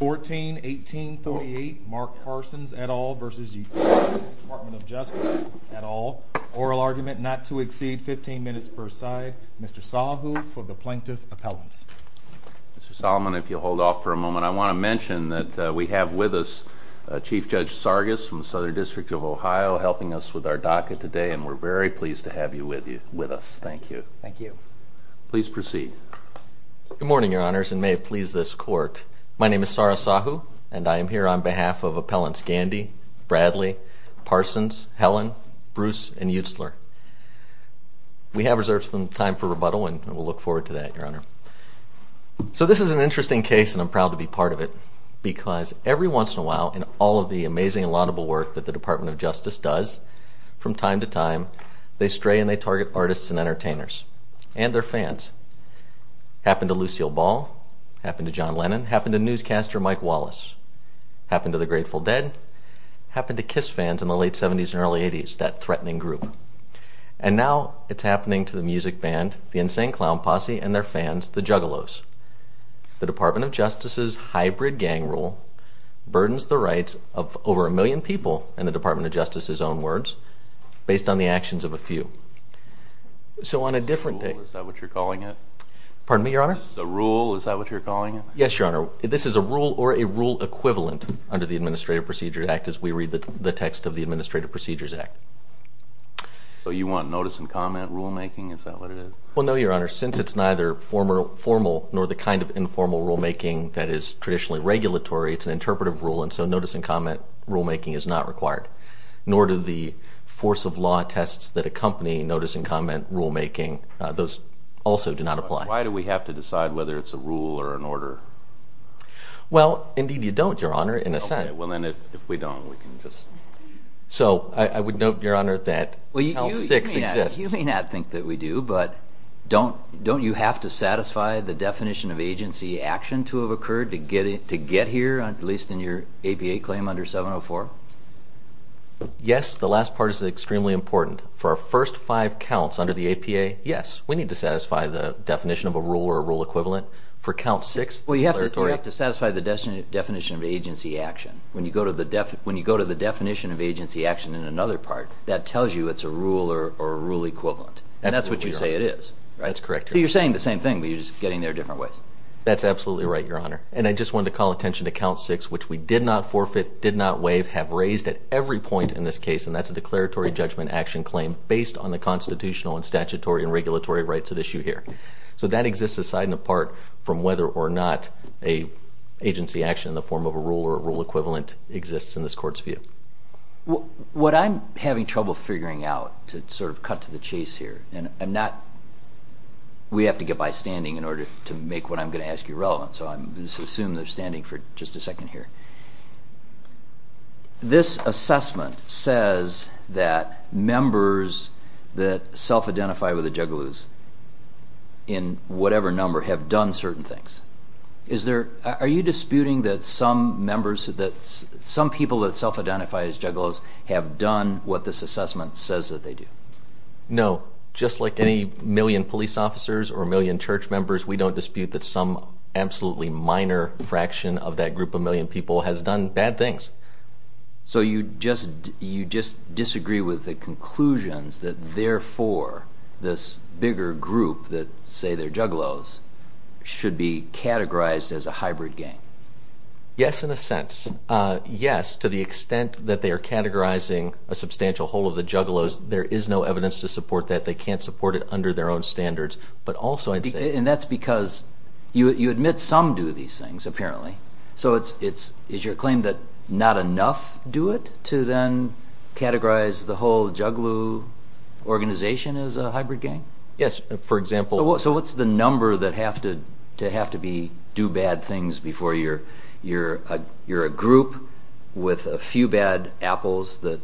14-18-38 Mark Parsons, et al. v. DOJ, et al. Oral argument not to exceed 15 minutes per side. Mr. Sahu for the Plaintiff's Appellants. Mr. Solomon, if you'll hold off for a moment, I want to mention that we have with us Chief Judge Sargis from the Southern District of Ohio helping us with our DACA today and we're very pleased to have you with us. Thank you. Thank you. Please proceed. Good morning, Your Honors, and may it please this Court. My name is Sarah Sahu and I am here on behalf of Appellants Gandy, Bradley, Parsons, Helen, Bruce, and Utsler. We have reserves of time for rebuttal and we'll look forward to that, Your Honor. So this is an interesting case and I'm proud to be part of it because every once in a while in all of the amazing and laudable work that the Department of Justice does, from time to time, they stray and they target artists and entertainers and their fans. Happened to Lucille Ball. Happened to John Lennon. Happened to newscaster Mike Wallace. Happened to the Grateful Dead. Happened to Kiss fans in the late 70s and early 80s, that threatening group. And now it's happening to the music band, the Insane Clown Posse, and their fans, the Juggalos. The Department of Justice's hybrid gang rule burdens the rights of over a million people, in the Department of Justice's own words, based on the actions of a few. Is that what you're calling it? Pardon me, Your Honor? The rule, is that what you're calling it? Yes, Your Honor. This is a rule or a rule equivalent under the Administrative Procedures Act as we read the text of the Administrative Procedures Act. So you want notice-and-comment rulemaking? Is that what it is? Well, no, Your Honor. Since it's neither formal nor the kind of informal rulemaking that is traditionally regulatory, it's an interpretive rule, and so notice-and-comment rulemaking is not required. Nor do the force-of-law tests that accompany notice-and-comment rulemaking. Those also do not apply. Why do we have to decide whether it's a rule or an order? Well, indeed you don't, Your Honor, in a sense. Okay, well then if we don't, we can just... So I would note, Your Honor, that Count 6 exists. You may not think that we do, but don't you have to satisfy the definition of agency action to have occurred to get here, at least in your APA claim under 704? Yes, the last part is extremely important. For our first five counts under the APA, yes, we need to satisfy the definition of a rule or a rule equivalent. Well, you have to satisfy the definition of agency action. When you go to the definition of agency action in another part, that tells you it's a rule or a rule equivalent, and that's what you say it is. That's correct, Your Honor. So you're saying the same thing, but you're just getting there different ways. That's absolutely right, Your Honor, and I just wanted to call attention to Count 6, which we did not forfeit, did not waive, have raised at every point in this case, and that's a declaratory judgment action claim based on the constitutional and statutory and regulatory rights at issue here. So that exists aside and apart from whether or not an agency action in the form of a rule or a rule equivalent exists in this Court's view. What I'm having trouble figuring out to sort of cut to the chase here, and I'm not – we have to get by standing in order to make what I'm going to ask you relevant, so I'm going to assume they're standing for just a second here. This assessment says that members that self-identify with the Juggalos in whatever number have done certain things. Is there – are you disputing that some members – that some people that self-identify as Juggalos have done what this assessment says that they do? No. Just like any million police officers or million church members, we don't dispute that some absolutely minor fraction of that group of million people has done bad things. So you just disagree with the conclusions that therefore this bigger group that say they're Juggalos should be categorized as a hybrid gang? Yes, in a sense. Yes, to the extent that they are categorizing a substantial whole of the Juggalos, there is no evidence to support that. They can't support it under their own standards, but also I'd say – And that's because you admit some do these things, apparently. So it's – is your claim that not enough do it to then categorize the whole Juggalo organization as a hybrid gang? Yes, for example – If you're a group with a few bad apples that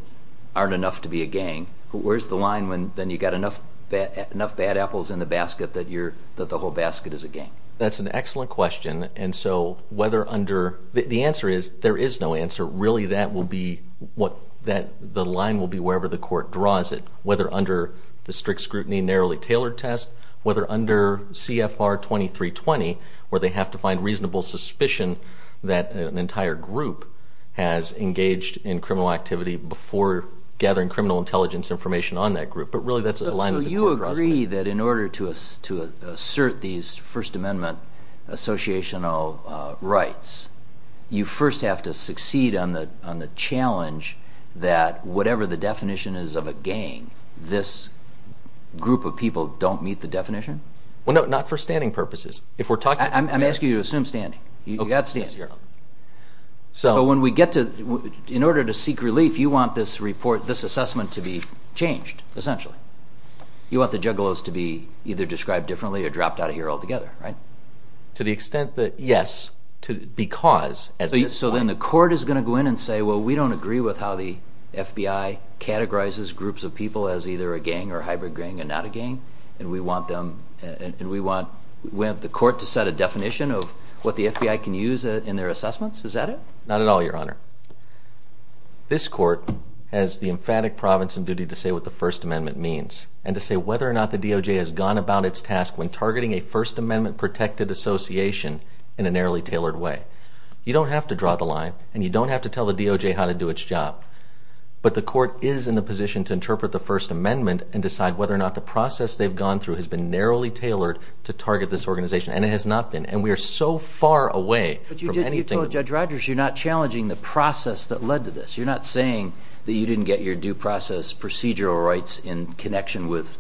aren't enough to be a gang, where's the line when then you've got enough bad apples in the basket that you're – that the whole basket is a gang? That's an excellent question, and so whether under – the answer is there is no answer. Really that will be what – the line will be wherever the court draws it, whether under the strict scrutiny, narrowly tailored test, whether under CFR 2320 where they have to find reasonable suspicion that an entire group has engaged in criminal activity before gathering criminal intelligence information on that group. But really that's the line that the court draws. – on the challenge that whatever the definition is of a gang, this group of people don't meet the definition? Well, no, not for standing purposes. If we're talking – I'm asking you to assume standing. You got standing. So when we get to – in order to seek relief, you want this report – this assessment to be changed, essentially. You want the Juggalos to be either described differently or dropped out of here altogether, right? To the extent that, yes, because – So then the court is going to go in and say, well, we don't agree with how the FBI categorizes groups of people as either a gang or hybrid gang and not a gang, and we want them – and we want – we want the court to set a definition of what the FBI can use in their assessments? Is that it? Not at all, Your Honor. This court has the emphatic province and duty to say what the First Amendment means and to say whether or not the DOJ has gone about its task when targeting a First Amendment protected association in a narrowly tailored way. You don't have to draw the line, and you don't have to tell the DOJ how to do its job. But the court is in the position to interpret the First Amendment and decide whether or not the process they've gone through has been narrowly tailored to target this organization, and it has not been. And we are so far away from anything – But you did – you told Judge Rodgers you're not challenging the process that led to this. You're not saying that you didn't get your due process procedural rights in connection with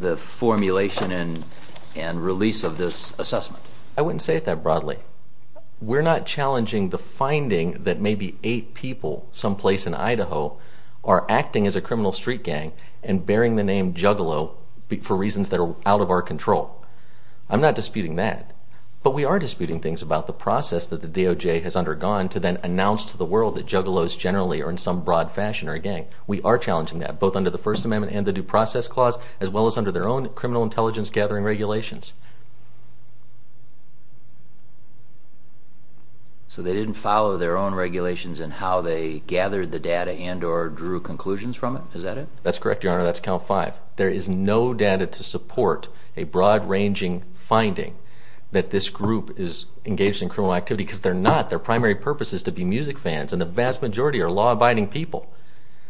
the formulation and release of this assessment. I wouldn't say it that broadly. We're not challenging the finding that maybe eight people someplace in Idaho are acting as a criminal street gang and bearing the name Juggalo for reasons that are out of our control. I'm not disputing that. But we are disputing things about the process that the DOJ has undergone to then announce to the world that Juggalos generally are in some broad fashion are a gang. We are challenging that, both under the First Amendment and the Due Process Clause, as well as under their own criminal intelligence-gathering regulations. So they didn't follow their own regulations in how they gathered the data and or drew conclusions from it? Is that it? That's correct, Your Honor. That's count five. There is no data to support a broad-ranging finding that this group is engaged in criminal activity because they're not. Their primary purpose is to be music fans, and the vast majority are law-abiding people.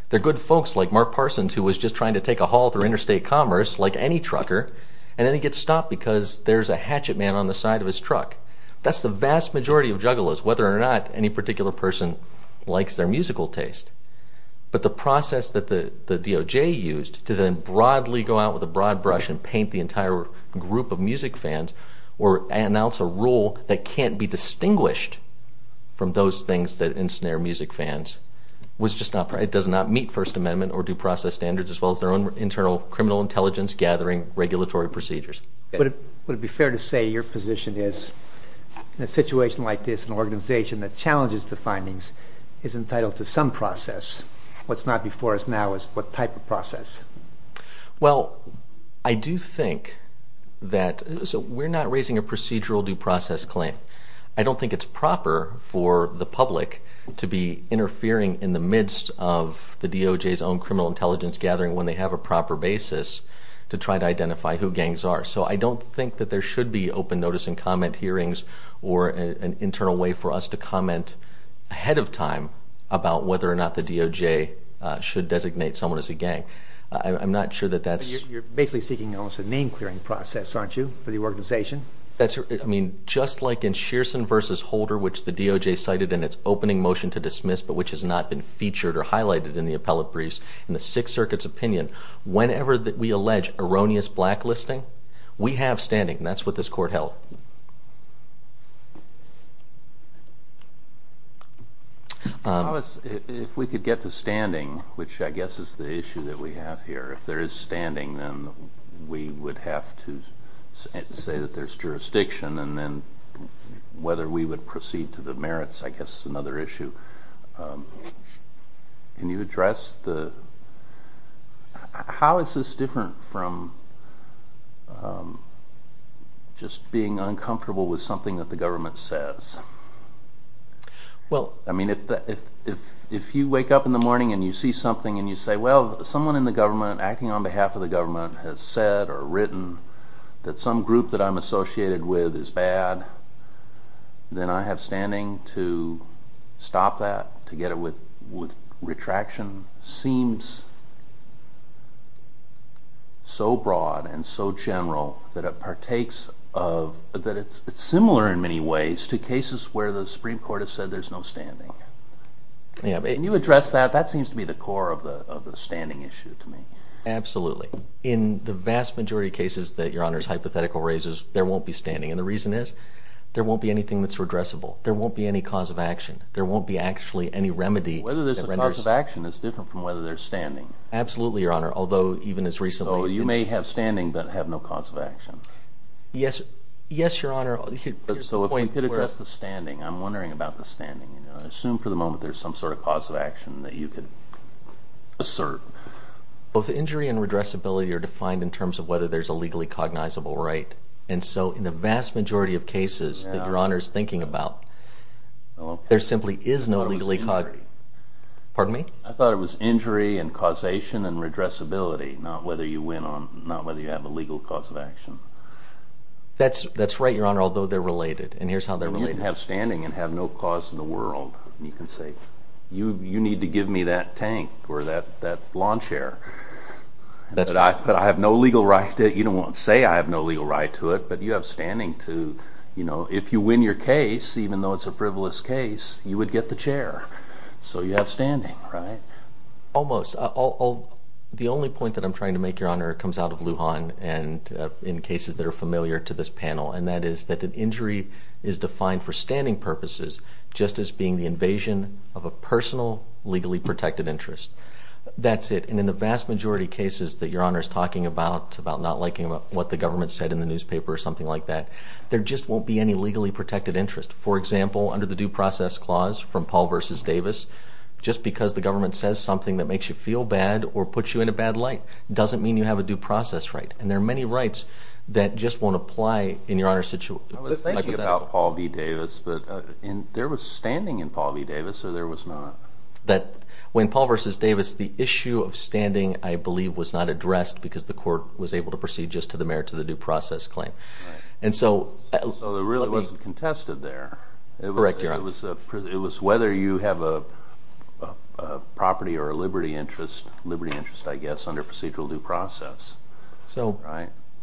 They're good folks like Mark Parsons, who was just trying to take a haul through interstate commerce like any trucker, and then he gets stopped because there's a hatchet man on the side of his truck. That's the vast majority of Juggalos, whether or not any particular person likes their musical taste. But the process that the DOJ used to then broadly go out with a broad brush and paint the entire group of music fans or announce a rule that can't be distinguished from those things that ensnare music fans was just not – it does not meet First Amendment or due process standards, as well as their own internal criminal intelligence-gathering regulatory procedures. Would it be fair to say your position is, in a situation like this, an organization that challenges the findings is entitled to some process. What's not before us now is what type of process? Well, I do think that – so we're not raising a procedural due process claim. I don't think it's proper for the public to be interfering in the midst of the DOJ's own criminal intelligence-gathering when they have a proper basis to try to identify who gangs are. So I don't think that there should be open notice and comment hearings or an internal way for us to comment ahead of time about whether or not the DOJ should designate someone as a gang. I'm not sure that that's – You're basically seeking almost a name-clearing process, aren't you, for the organization? That's – I mean, just like in Shearson v. Holder, which the DOJ cited in its opening motion to dismiss, but which has not been featured or highlighted in the appellate briefs, in the Sixth Circuit's opinion, whenever we allege erroneous blacklisting, we have standing. And that's what this Court held. How is – if we could get to standing, which I guess is the issue that we have here. If there is standing, then we would have to say that there's jurisdiction, and then whether we would proceed to the merits, I guess, is another issue. Can you address the – how is this different from just being uncomfortable with something that the government says? Well, I mean, if you wake up in the morning and you see something and you say, well, someone in the government acting on behalf of the government has said or written that some group that I'm associated with is bad, then I have standing to stop that, to get it with retraction. That seems so broad and so general that it partakes of – that it's similar in many ways to cases where the Supreme Court has said there's no standing. Can you address that? That seems to be the core of the standing issue to me. Absolutely. In the vast majority of cases that Your Honor's hypothetical raises, there won't be standing. And the reason is there won't be anything that's redressable. There won't be any cause of action. There won't be actually any remedy that renders – Absolutely, Your Honor, although even as recently – So you may have standing but have no cause of action. Yes, Your Honor. So if we could address the standing, I'm wondering about the standing. I assume for the moment there's some sort of cause of action that you could assert. Both injury and redressability are defined in terms of whether there's a legally cognizable right. And so in the vast majority of cases that Your Honor's thinking about, there simply is no legally – Pardon me? I thought it was injury and causation and redressability, not whether you have a legal cause of action. That's right, Your Honor, although they're related. And here's how they're related. You can have standing and have no cause in the world. You can say, you need to give me that tank or that lawn chair. But I have no legal right to it. You don't want to say I have no legal right to it. But you have standing to – if you win your case, even though it's a frivolous case, you would get the chair. So you have standing, right? Almost. The only point that I'm trying to make, Your Honor, comes out of Lujan and in cases that are familiar to this panel. And that is that an injury is defined for standing purposes just as being the invasion of a personal legally protected interest. That's it. And in the vast majority of cases that Your Honor's talking about, about not liking what the government said in the newspaper or something like that, there just won't be any legally protected interest. For example, under the due process clause from Paul v. Davis, just because the government says something that makes you feel bad or puts you in a bad light doesn't mean you have a due process right. And there are many rights that just won't apply in Your Honor's situation. I was thinking about Paul v. Davis, but there was standing in Paul v. Davis or there was not? When Paul v. Davis, the issue of standing, I believe, was not addressed because the court was able to proceed just to the merit of the due process claim. So it really wasn't contested there. Correct, Your Honor. It was whether you have a property or a liberty interest, liberty interest I guess, under procedural due process. So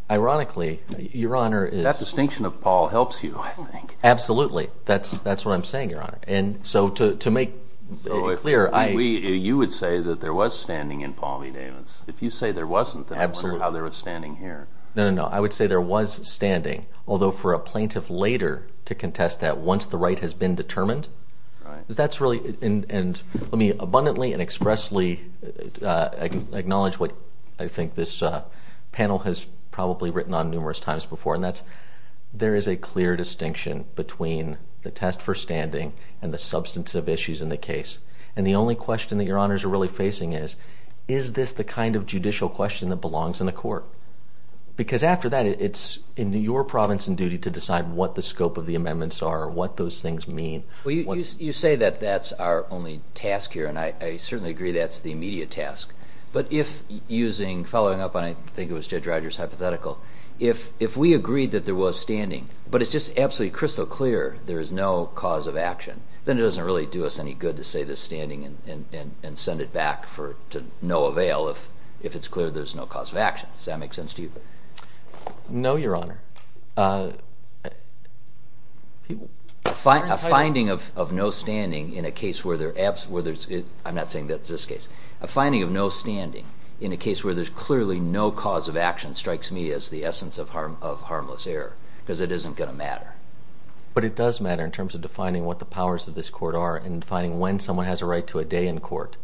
ironically, Your Honor, That distinction of Paul helps you, I think. Absolutely. That's what I'm saying, Your Honor. And so to make it clear, You would say that there was standing in Paul v. Davis. If you say there wasn't, then I wonder how there was standing here. No, no, no. I would say there was standing, although for a plaintiff later to contest that once the right has been determined, because that's really, and let me abundantly and expressly acknowledge what I think this panel has probably written on numerous times before, and that's there is a clear distinction between the test for standing and the substantive issues in the case. And the only question that Your Honors are really facing is, is this the kind of judicial question that belongs in the court? Because after that, it's in your province and duty to decide what the scope of the amendments are, what those things mean. You say that that's our only task here, and I certainly agree that's the immediate task. But if using, following up on, I think it was Judge Rogers' hypothetical, if we agreed that there was standing, but it's just absolutely crystal clear there is no cause of action, then it doesn't really do us any good to say there's standing and send it back to no avail if it's clear there's no cause of action. Does that make sense to you? No, Your Honor. A finding of no standing in a case where there's, I'm not saying that's this case, a finding of no standing in a case where there's clearly no cause of action strikes me as the essence of harmless error, because it isn't going to matter. But it does matter in terms of defining what the powers of this court are and defining when someone has a right to a day in court.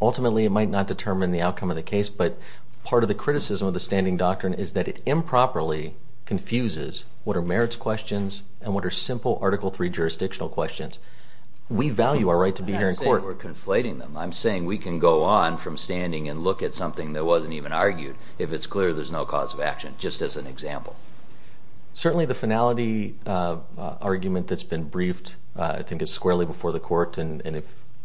Ultimately, it might not determine the outcome of the case, but part of the criticism of the standing doctrine is that it improperly confuses what are merits questions and what are simple Article III jurisdictional questions. We value our right to be here in court. I'm not saying we're conflating them. I'm saying we can go on from standing and look at something that wasn't even argued if it's clear there's no cause of action, just as an example. Certainly the finality argument that's been briefed I think is squarely before the court, and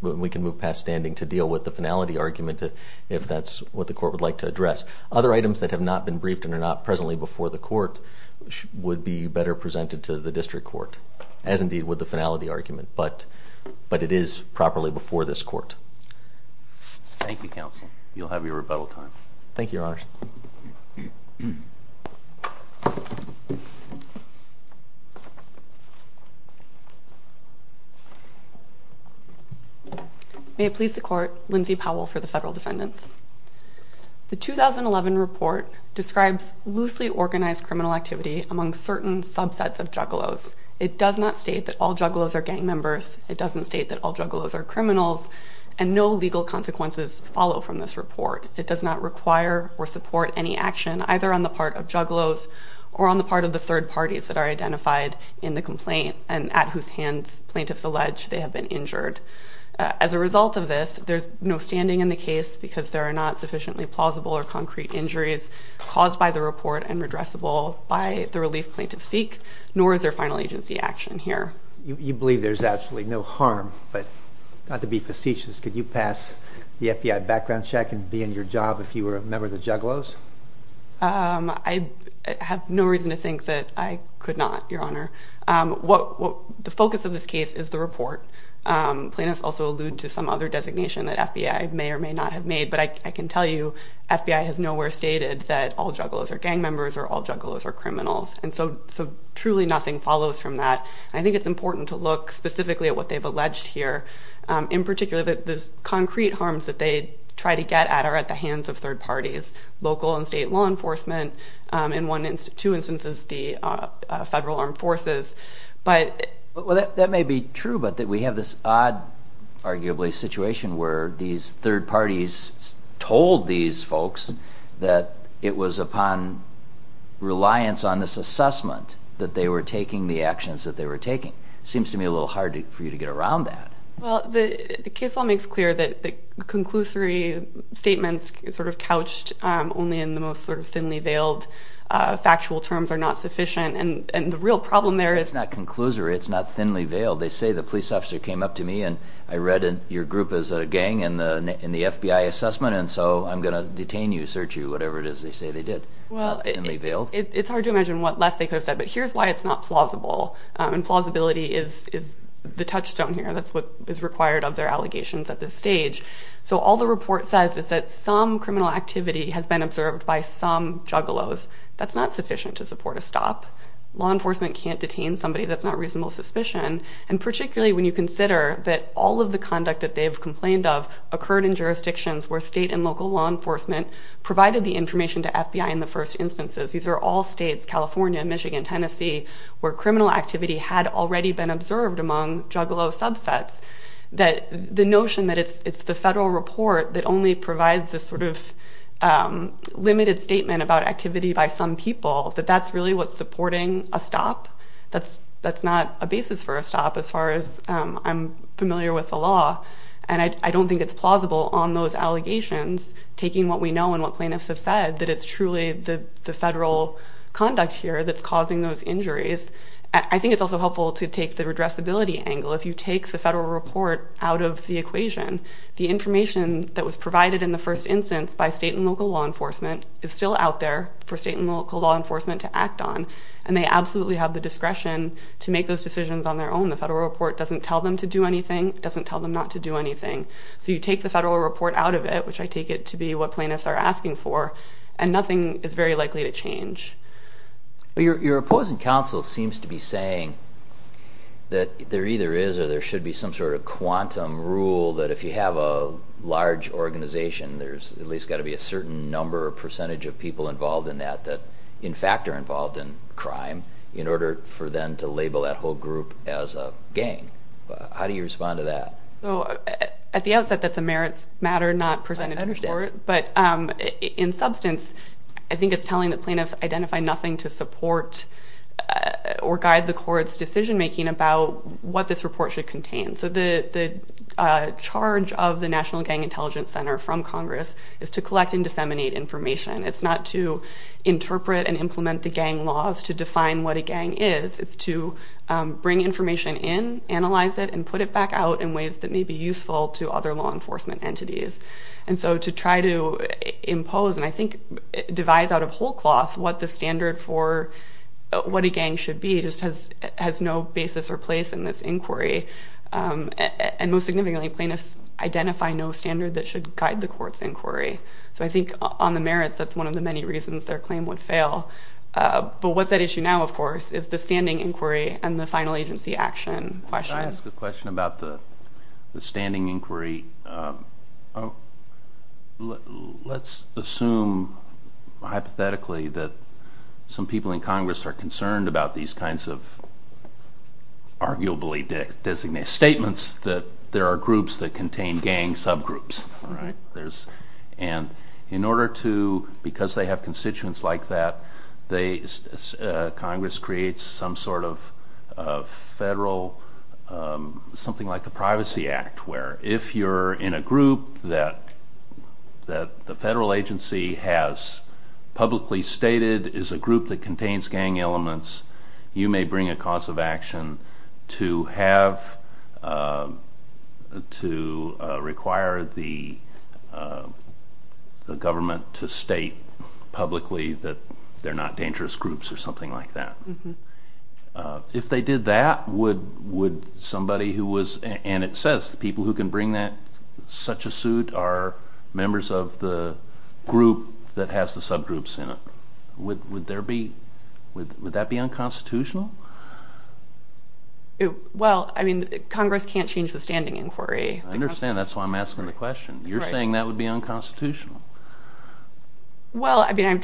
we can move past standing to deal with the finality argument if that's what the court would like to address. Other items that have not been briefed and are not presently before the court would be better presented to the district court, as indeed would the finality argument. But it is properly before this court. Thank you, counsel. Thank you, Your Honors. Thank you. May it please the Court, Lindsay Powell for the federal defendants. The 2011 report describes loosely organized criminal activity among certain subsets of juggalos. It does not state that all juggalos are gang members. It doesn't state that all juggalos are criminals, and no legal consequences follow from this report. It does not require or support any action either on the part of juggalos or on the part of the third parties that are identified in the complaint and at whose hands plaintiffs allege they have been injured. As a result of this, there's no standing in the case because there are not sufficiently plausible or concrete injuries caused by the report and redressable by the relief plaintiffs seek, nor is there final agency action here. You believe there's absolutely no harm, but not to be facetious, could you pass the FBI background check and be in your job if you were a member of the juggalos? I have no reason to think that I could not, Your Honor. The focus of this case is the report. Plaintiffs also allude to some other designation that FBI may or may not have made, but I can tell you FBI has nowhere stated that all juggalos are gang members or all juggalos are criminals, and so truly nothing follows from that. I think it's important to look specifically at what they've alleged here, in particular the concrete harms that they try to get at are at the hands of third parties, local and state law enforcement, in two instances the Federal Armed Forces. That may be true, but we have this odd, arguably, situation where these third parties told these folks that it was upon reliance on this assessment that they were taking the actions that they were taking. It seems to me a little hard for you to get around that. The case law makes clear that the conclusory statements sort of couched only in the most sort of thinly veiled factual terms are not sufficient, and the real problem there is... It's not conclusory, it's not thinly veiled. They say the police officer came up to me and I read your group as a gang in the FBI assessment, and so I'm going to detain you, search you, whatever it is they say they did. It's hard to imagine what less they could have said, but here's why it's not plausible, and plausibility is the touchstone here. That's what is required of their allegations at this stage. So all the report says is that some criminal activity has been observed by some juggalos. That's not sufficient to support a stop. Law enforcement can't detain somebody that's not reasonable suspicion, and particularly when you consider that all of the conduct that they've complained of occurred in jurisdictions where state and local law enforcement provided the information to FBI in the first instances. These are all states, California, Michigan, Tennessee, where criminal activity had already been observed among juggalo subsets. The notion that it's the federal report that only provides this sort of limited statement about activity by some people, that that's really what's supporting a stop, that's not a basis for a stop as far as I'm familiar with the law, and I don't think it's plausible on those allegations, taking what we know and what plaintiffs have said, that it's truly the federal conduct here that's causing those injuries. I think it's also helpful to take the redressability angle. If you take the federal report out of the equation, the information that was provided in the first instance by state and local law enforcement is still out there for state and local law enforcement to act on, and they absolutely have the discretion to make those decisions on their own. The federal report doesn't tell them to do anything. It doesn't tell them not to do anything. So you take the federal report out of it, which I take it to be what plaintiffs are asking for, and nothing is very likely to change. Your opposing counsel seems to be saying that there either is or there should be some sort of quantum rule that if you have a large organization, there's at least got to be a certain number or percentage of people involved in that that in fact are involved in crime in order for them to label that whole group as a gang. How do you respond to that? At the outset, that's a merits matter not presented to court. But in substance, I think it's telling the plaintiffs identify nothing to support or guide the court's decision-making about what this report should contain. So the charge of the National Gang Intelligence Center from Congress is to collect and disseminate information. It's not to interpret and implement the gang laws to define what a gang is. It's to bring information in, analyze it, and put it back out in ways that may be useful to other law enforcement entities. And so to try to impose and I think devise out of whole cloth what the standard for what a gang should be just has no basis or place in this inquiry. And most significantly, plaintiffs identify no standard that should guide the court's inquiry. So I think on the merits, that's one of the many reasons their claim would fail. But what's at issue now, of course, is the standing inquiry and the final agency action question. Can I ask a question about the standing inquiry? Let's assume hypothetically that some people in Congress are concerned about these kinds of arguably designated statements that there are groups that contain gang subgroups. And in order to, because they have constituents like that, Congress creates some sort of federal, something like the Privacy Act, where if you're in a group that the federal agency has publicly stated is a group that contains gang elements, you may bring a cause of action to have, to require the government to state publicly that they're not dangerous groups or something like that. If they did that, would somebody who was, and it says the people who can bring that, such a suit are members of the group that has the subgroups in it. Would there be, would that be unconstitutional? Well, I mean, Congress can't change the standing inquiry. I understand. That's why I'm asking the question. You're saying that would be unconstitutional. Well, I mean,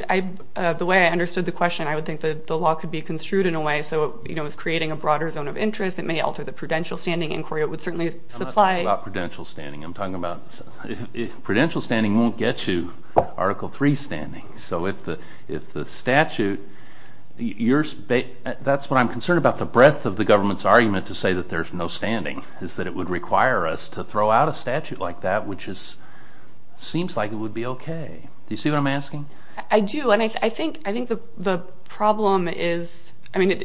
the way I understood the question, I would think that the law could be construed in a way so it's creating a broader zone of interest. It may alter the prudential standing inquiry. It would certainly supply. I'm not talking about prudential standing. I'm talking about prudential standing won't get you Article III standing. So if the statute, that's what I'm concerned about, the breadth of the government's argument to say that there's no standing, is that it would require us to throw out a statute like that, which seems like it would be okay. Do you see what I'm asking? I do, and I think the problem is, I mean,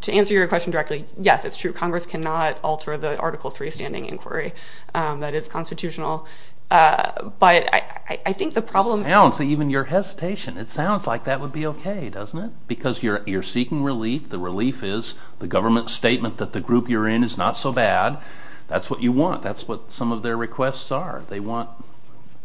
to answer your question directly, yes, it's true. Congress cannot alter the Article III standing inquiry that is constitutional. But I think the problem. It sounds, even your hesitation, it sounds like that would be okay, doesn't it? Because you're seeking relief. The relief is the government statement that the group you're in is not so bad. That's what you want. That's what some of their requests are. They want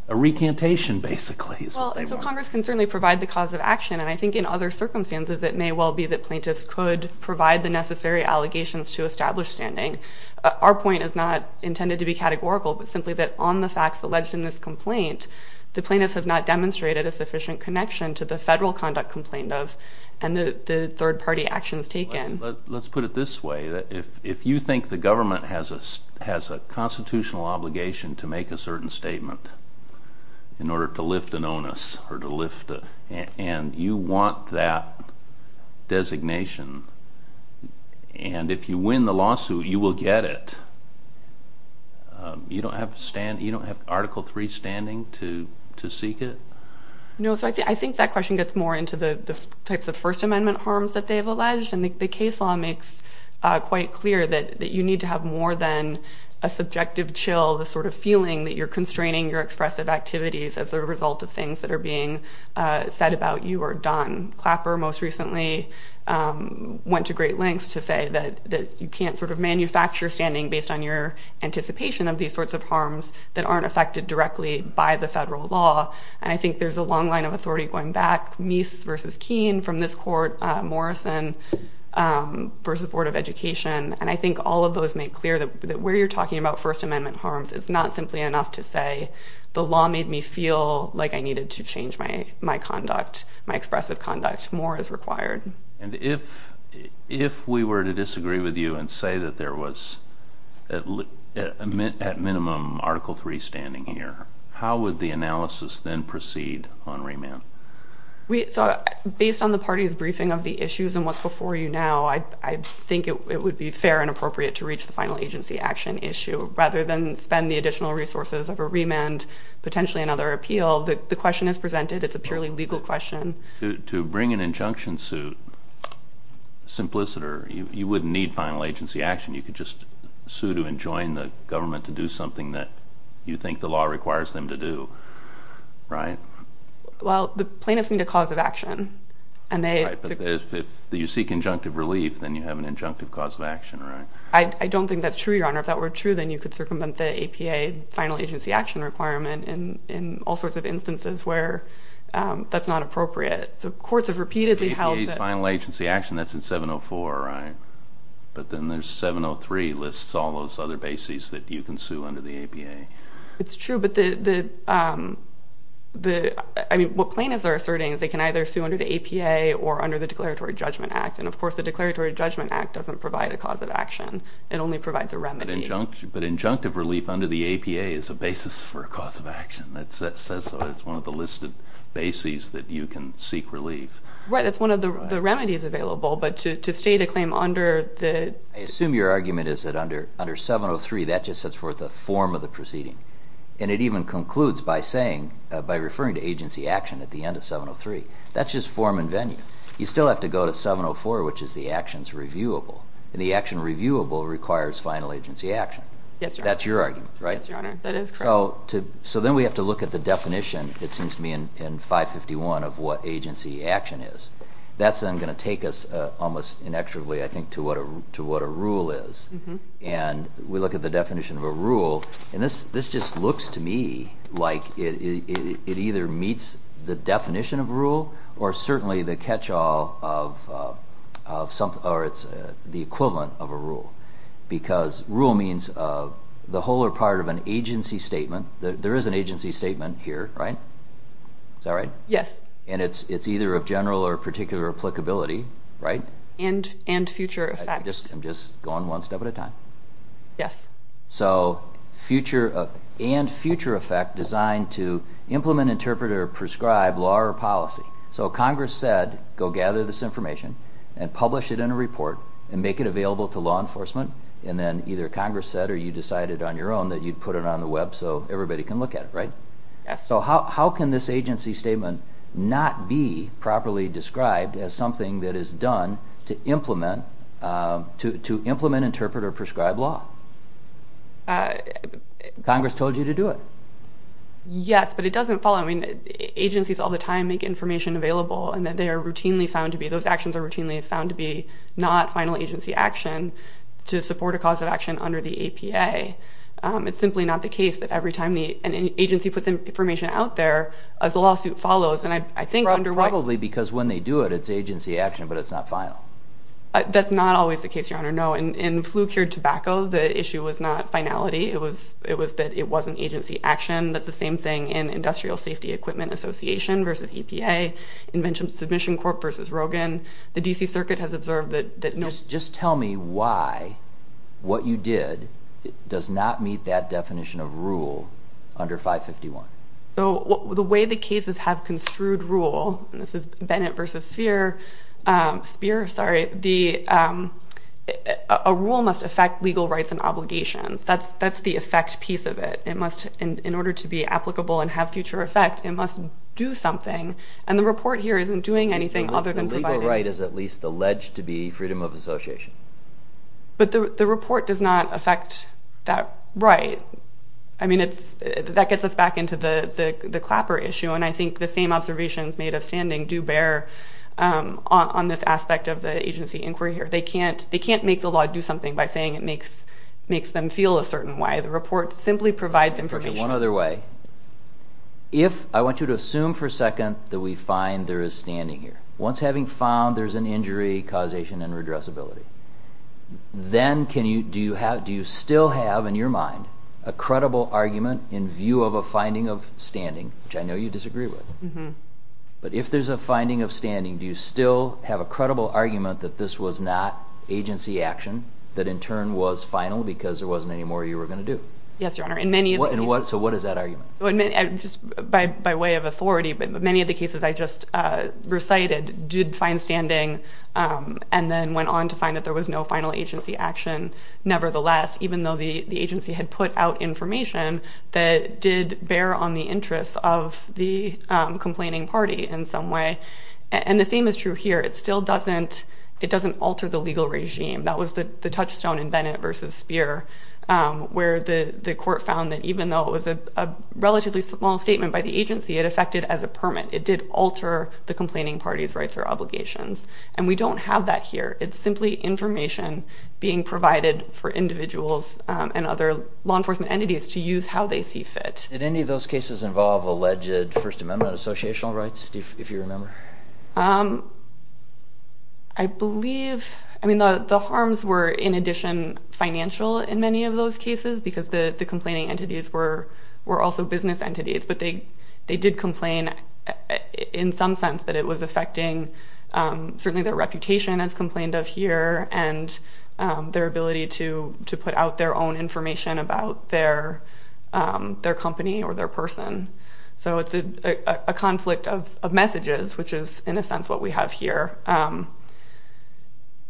a recantation, basically. So Congress can certainly provide the cause of action, and I think in other circumstances it may well be that plaintiffs could provide the necessary allegations to establish standing. Our point is not intended to be categorical, but simply that on the facts alleged in this complaint, the plaintiffs have not demonstrated a sufficient connection to the federal conduct complaint of and the third-party actions taken. Let's put it this way. If you think the government has a constitutional obligation to make a certain statement in order to lift an onus, and you want that designation, and if you win the lawsuit you will get it, you don't have Article III standing to seek it? No, so I think that question gets more into the types of First Amendment harms that they have alleged, and the case law makes quite clear that you need to have more than a subjective chill, the sort of feeling that you're constraining your expressive activities as a result of things that are being said about you or done. Clapper most recently went to great lengths to say that you can't sort of manufacture standing based on your anticipation of these sorts of harms that aren't affected directly by the federal law, and I think there's a long line of authority going back, Meese versus Keene from this court, Morrison versus the Board of Education, and I think all of those make clear that where you're talking about First Amendment harms it's not simply enough to say the law made me feel like I needed to change my conduct, my expressive conduct, more is required. And if we were to disagree with you and say that there was at minimum Article III standing here, how would the analysis then proceed on remand? Based on the party's briefing of the issues and what's before you now, I think it would be fair and appropriate to reach the final agency action issue rather than spend the additional resources of a remand, potentially another appeal. The question is presented, it's a purely legal question. To bring an injunction suit, simpliciter, you wouldn't need final agency action. You could just sue to enjoin the government to do something that you think the law requires them to do, right? Well, the plaintiffs need a cause of action. Right, but if you seek injunctive relief, then you have an injunctive cause of action, right? I don't think that's true, Your Honor. If that were true, then you could circumvent the APA final agency action requirement in all sorts of instances where that's not appropriate. So courts have repeatedly held that. The APA's final agency action, that's in 704, right? But then there's 703 lists all those other bases that you can sue under the APA. It's true, but the, I mean, what plaintiffs are asserting is they can either sue under the APA or under the Declaratory Judgment Act. And, of course, the Declaratory Judgment Act doesn't provide a cause of action. It only provides a remedy. But injunctive relief under the APA is a basis for a cause of action. That says so. That's one of the listed bases that you can seek relief. Right, that's one of the remedies available. But to state a claim under the— I assume your argument is that under 703, that just sets forth the form of the proceeding. And it even concludes by saying, by referring to agency action at the end of 703. That's just form and venue. You still have to go to 704, which is the actions reviewable. And the action reviewable requires final agency action. Yes, Your Honor. That's your argument, right? Yes, Your Honor. That is correct. So then we have to look at the definition, it seems to me, in 551 of what agency action is. That's then going to take us almost inexorably, I think, to what a rule is. And we look at the definition of a rule. And this just looks to me like it either meets the definition of a rule or certainly the catch-all of—or it's the equivalent of a rule. Because rule means the whole or part of an agency statement. There is an agency statement here, right? Is that right? Yes. And it's either of general or particular applicability, right? And future effect. I'm just going one step at a time. Yes. So future and future effect designed to implement, interpret, or prescribe law or policy. So Congress said, go gather this information and publish it in a report and make it available to law enforcement. And then either Congress said or you decided on your own that you'd put it on the web so everybody can look at it, right? Yes. So how can this agency statement not be properly described as something that is done to implement, interpret, or prescribe law? Congress told you to do it. Yes, but it doesn't follow. I mean, agencies all the time make information available and that they are routinely found to be—those actions are routinely found to be not final agency action to support a cause of action under the APA. It's simply not the case that every time an agency puts information out there, as the lawsuit follows, and I think under— Probably because when they do it, it's agency action, but it's not final. That's not always the case, Your Honor, no. In Flu-Cured Tobacco, the issue was not finality. It was that it wasn't agency action. That's the same thing in Industrial Safety Equipment Association versus EPA, Invention Submission Corp versus Rogan. The D.C. Circuit has observed that no— Just tell me why what you did does not meet that definition of rule under 551. So the way the cases have construed rule, and this is Bennett versus Speer, a rule must affect legal rights and obligations. That's the effect piece of it. In order to be applicable and have future effect, it must do something, and the report here isn't doing anything other than providing— The legal right is at least alleged to be freedom of association. But the report does not affect that right. That gets us back into the Clapper issue, and I think the same observations made of standing do bear on this aspect of the agency inquiry here. They can't make the law do something by saying it makes them feel a certain way. The report simply provides information. One other way. If—I want you to assume for a second that we find there is standing here. Once having found there's an injury, causation, and redressability, then do you still have in your mind a credible argument in view of a finding of standing, which I know you disagree with, but if there's a finding of standing, do you still have a credible argument that this was not agency action, that in turn was final because there wasn't any more you were going to do? Yes, Your Honor. So what is that argument? Just by way of authority, many of the cases I just recited did find standing and then went on to find that there was no final agency action nevertheless, even though the agency had put out information that did bear on the interests of the complaining party in some way. And the same is true here. It still doesn't—it doesn't alter the legal regime. That was the touchstone in Bennett v. Speer, where the court found that even though it was a relatively small statement by the agency, it affected as a permit. It did alter the complaining party's rights or obligations, and we don't have that here. It's simply information being provided for individuals and other law enforcement entities to use how they see fit. Did any of those cases involve alleged First Amendment associational rights, if you remember? I believe—I mean, the harms were, in addition, financial in many of those cases because the complaining entities were also business entities, but they did complain in some sense that it was affecting certainly their reputation, as complained of here, and their ability to put out their own information about their company or their person. So it's a conflict of messages, which is, in a sense, what we have here.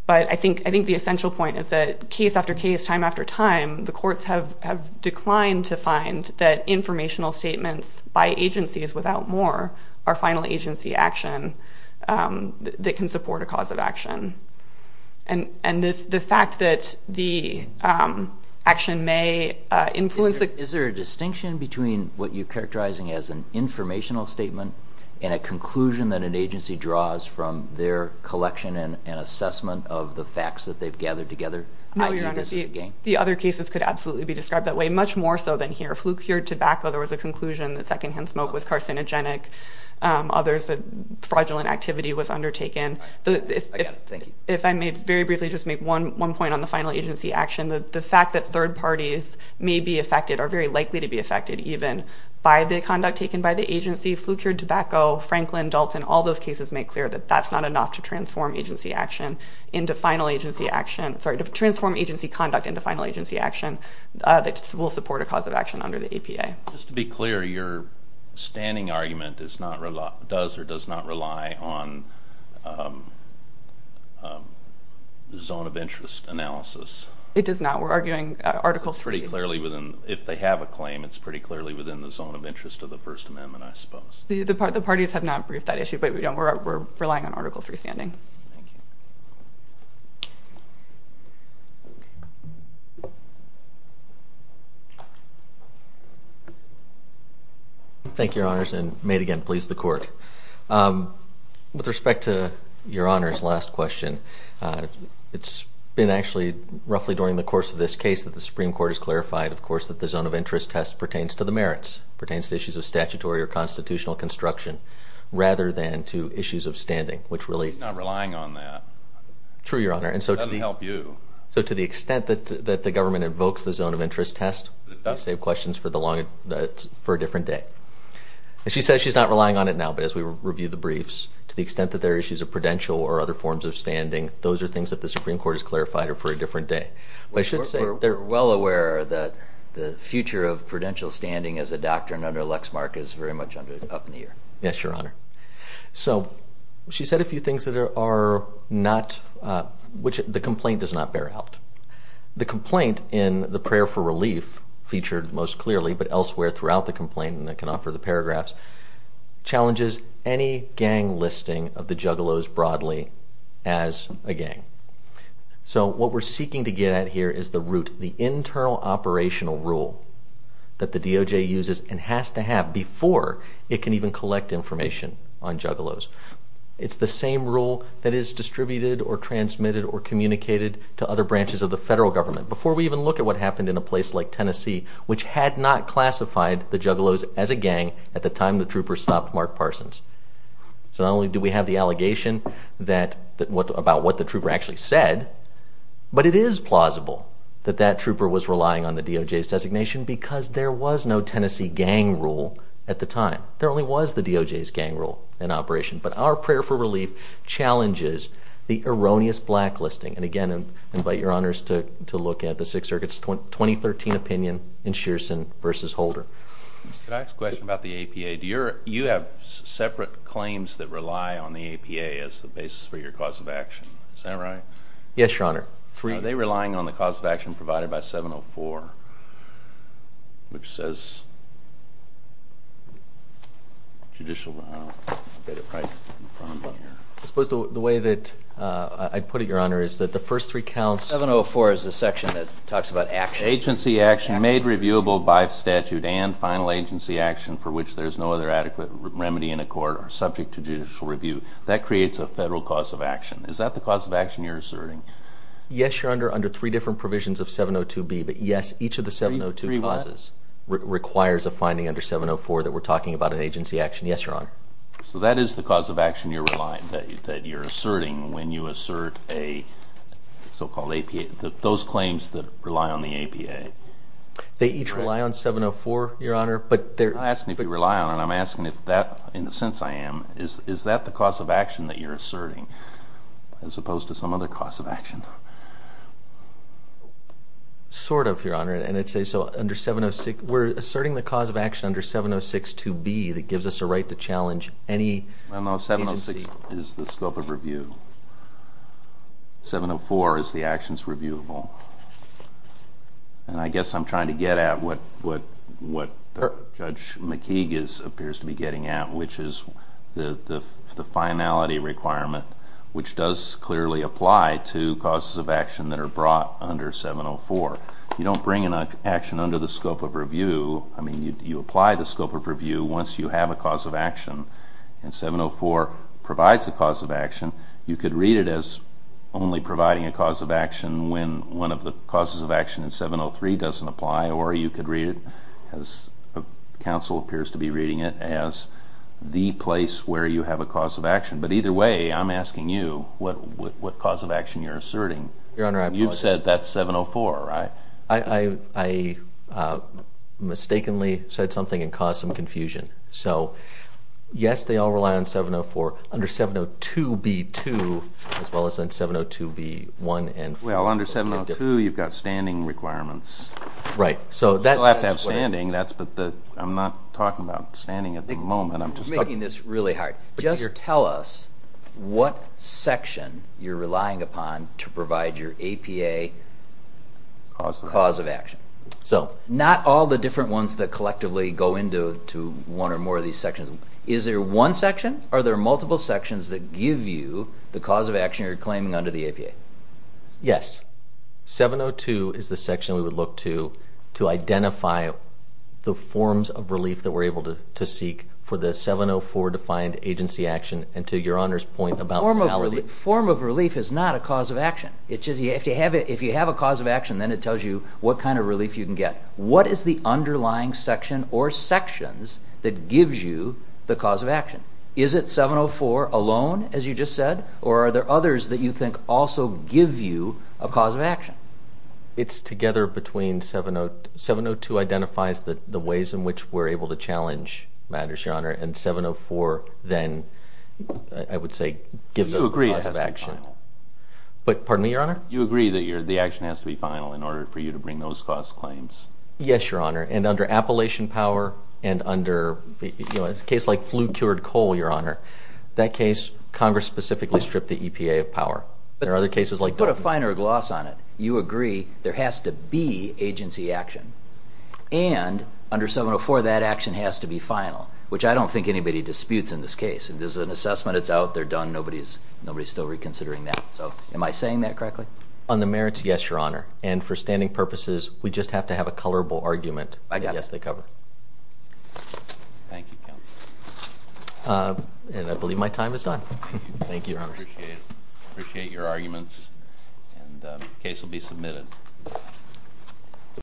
But I think the essential point is that case after case, time after time, the courts have declined to find that informational statements by agencies, without more, are final agency action that can support a cause of action. And the fact that the action may influence the— Is there a distinction between what you're characterizing as an informational statement and a conclusion that an agency draws from their collection and assessment of the facts that they've gathered together? No, Your Honor. The other cases could absolutely be described that way, much more so than here. Flu-cured tobacco, there was a conclusion that secondhand smoke was carcinogenic. Others said fraudulent activity was undertaken. If I may very briefly just make one point on the final agency action, the fact that third parties may be affected or very likely to be affected even by the conduct taken by the agency, flu-cured tobacco, Franklin, Dalton, all those cases make clear that that's not enough to transform agency action sorry, to transform agency conduct into final agency action that will support a cause of action under the APA. Just to be clear, your standing argument does or does not rely on zone of interest analysis? It does not. We're arguing Article 3. It's pretty clearly within—if they have a claim, it's pretty clearly within the zone of interest of the First Amendment, I suppose. The parties have not briefed that issue, but we're relying on Article 3 standing. Thank you. Thank you, Your Honors, and may it again please the Court. With respect to Your Honors' last question, it's been actually roughly during the course of this case that the Supreme Court has clarified, of course, that the zone of interest test pertains to the merits, pertains to issues of statutory or constitutional construction, rather than to issues of standing, which really— She's not relying on that. True, Your Honor. That doesn't help you. So to the extent that the government invokes the zone of interest test, we save questions for a different day. And she says she's not relying on it now, but as we review the briefs, to the extent that there are issues of prudential or other forms of standing, those are things that the Supreme Court has clarified are for a different day. I should say they're well aware that the future of prudential standing as a doctrine under Lexmark is very much up in the air. Yes, Your Honor. So she said a few things that are not—which the complaint does not bear out. The complaint in the prayer for relief featured most clearly, but elsewhere throughout the complaint, and I can offer the paragraphs, challenges any gang listing of the Juggalos broadly as a gang. So what we're seeking to get at here is the root, the internal operational rule that the DOJ uses and has to have before it can even collect information on Juggalos. It's the same rule that is distributed or transmitted or communicated to other branches of the federal government. Before we even look at what happened in a place like Tennessee, which had not classified the Juggalos as a gang at the time the troopers stopped Mark Parsons. So not only do we have the allegation about what the trooper actually said, but it is plausible that that trooper was relying on the DOJ's designation because there was no Tennessee gang rule at the time. There only was the DOJ's gang rule in operation. But our prayer for relief challenges the erroneous blacklisting. And again, I invite Your Honors to look at the Sixth Circuit's 2013 opinion in Shearson v. Holder. Could I ask a question about the APA? Do you have separate claims that rely on the APA as the basis for your cause of action? Is that right? Yes, Your Honor. Are they relying on the cause of action provided by 704, which says judicial... I suppose the way that I put it, Your Honor, is that the first three counts... 704 is the section that talks about action. Agency action made reviewable by statute and final agency action for which there is no other adequate remedy in a court are subject to judicial review. That creates a federal cause of action. Is that the cause of action you're asserting? Yes, Your Honor, under three different provisions of 702B. But yes, each of the 702 clauses requires a finding under 704 that we're talking about an agency action. Yes, Your Honor. So that is the cause of action you're relying... that you're asserting when you assert a so-called APA... those claims that rely on the APA. They each rely on 704, Your Honor, but they're... I'm not asking if you rely on it. I'm asking if that, in the sense I am, is that the cause of action that you're asserting as opposed to some other cause of action? Sort of, Your Honor. And I'd say so under 706... We're asserting the cause of action under 7062B that gives us a right to challenge any agency. ...is the scope of review. 704 is the actions reviewable. And I guess I'm trying to get at what Judge McKeague appears to be getting at, which is the finality requirement, which does clearly apply to causes of action that are brought under 704. You don't bring an action under the scope of review. I mean, you apply the scope of review once you have a cause of action. And 704 provides a cause of action. You could read it as only providing a cause of action when one of the causes of action in 703 doesn't apply, or you could read it, as counsel appears to be reading it, as the place where you have a cause of action. But either way, I'm asking you what cause of action you're asserting. Your Honor, I... You've said that's 704, right? I mistakenly said something and caused some confusion. So, yes, they all rely on 704. Under 702b-2, as well as on 702b-1 and... Well, under 702, you've got standing requirements. Right. You still have to have standing, but I'm not talking about standing at the moment. You're making this really hard. Just tell us what section you're relying upon to provide your APA cause of action. So, not all the different ones that collectively go into one or more of these sections. Is there one section, or are there multiple sections that give you the cause of action you're claiming under the APA? Yes. 702 is the section we would look to to identify the forms of relief that we're able to seek for the 704-defined agency action, and to Your Honor's point about... A form of relief is not a cause of action. If you have a cause of action, then it tells you what kind of relief you can get. What is the underlying section or sections that gives you the cause of action? Is it 704 alone, as you just said, or are there others that you think also give you a cause of action? It's together between... 702 identifies the ways in which we're able to challenge matters, Your Honor, and 704 then, I would say, gives us the cause of action. So you agree it has to be final? Pardon me, Your Honor? You agree that the action has to be final in order for you to bring those cause claims? Yes, Your Honor, and under Appalachian Power and under... It's a case like flu-cured coal, Your Honor. That case, Congress specifically stripped the EPA of power. There are other cases like... Put a finer gloss on it. You agree there has to be agency action, and under 704 that action has to be final, which I don't think anybody disputes in this case. This is an assessment. It's out. They're done. Nobody's still reconsidering that. Am I saying that correctly? On the merits, yes, Your Honor. And for standing purposes, we just have to have a colorable argument. I got it. Yes, they cover. Thank you, counsel. And I believe my time is done. Thank you, Your Honor. Appreciate your arguments, and the case will be submitted.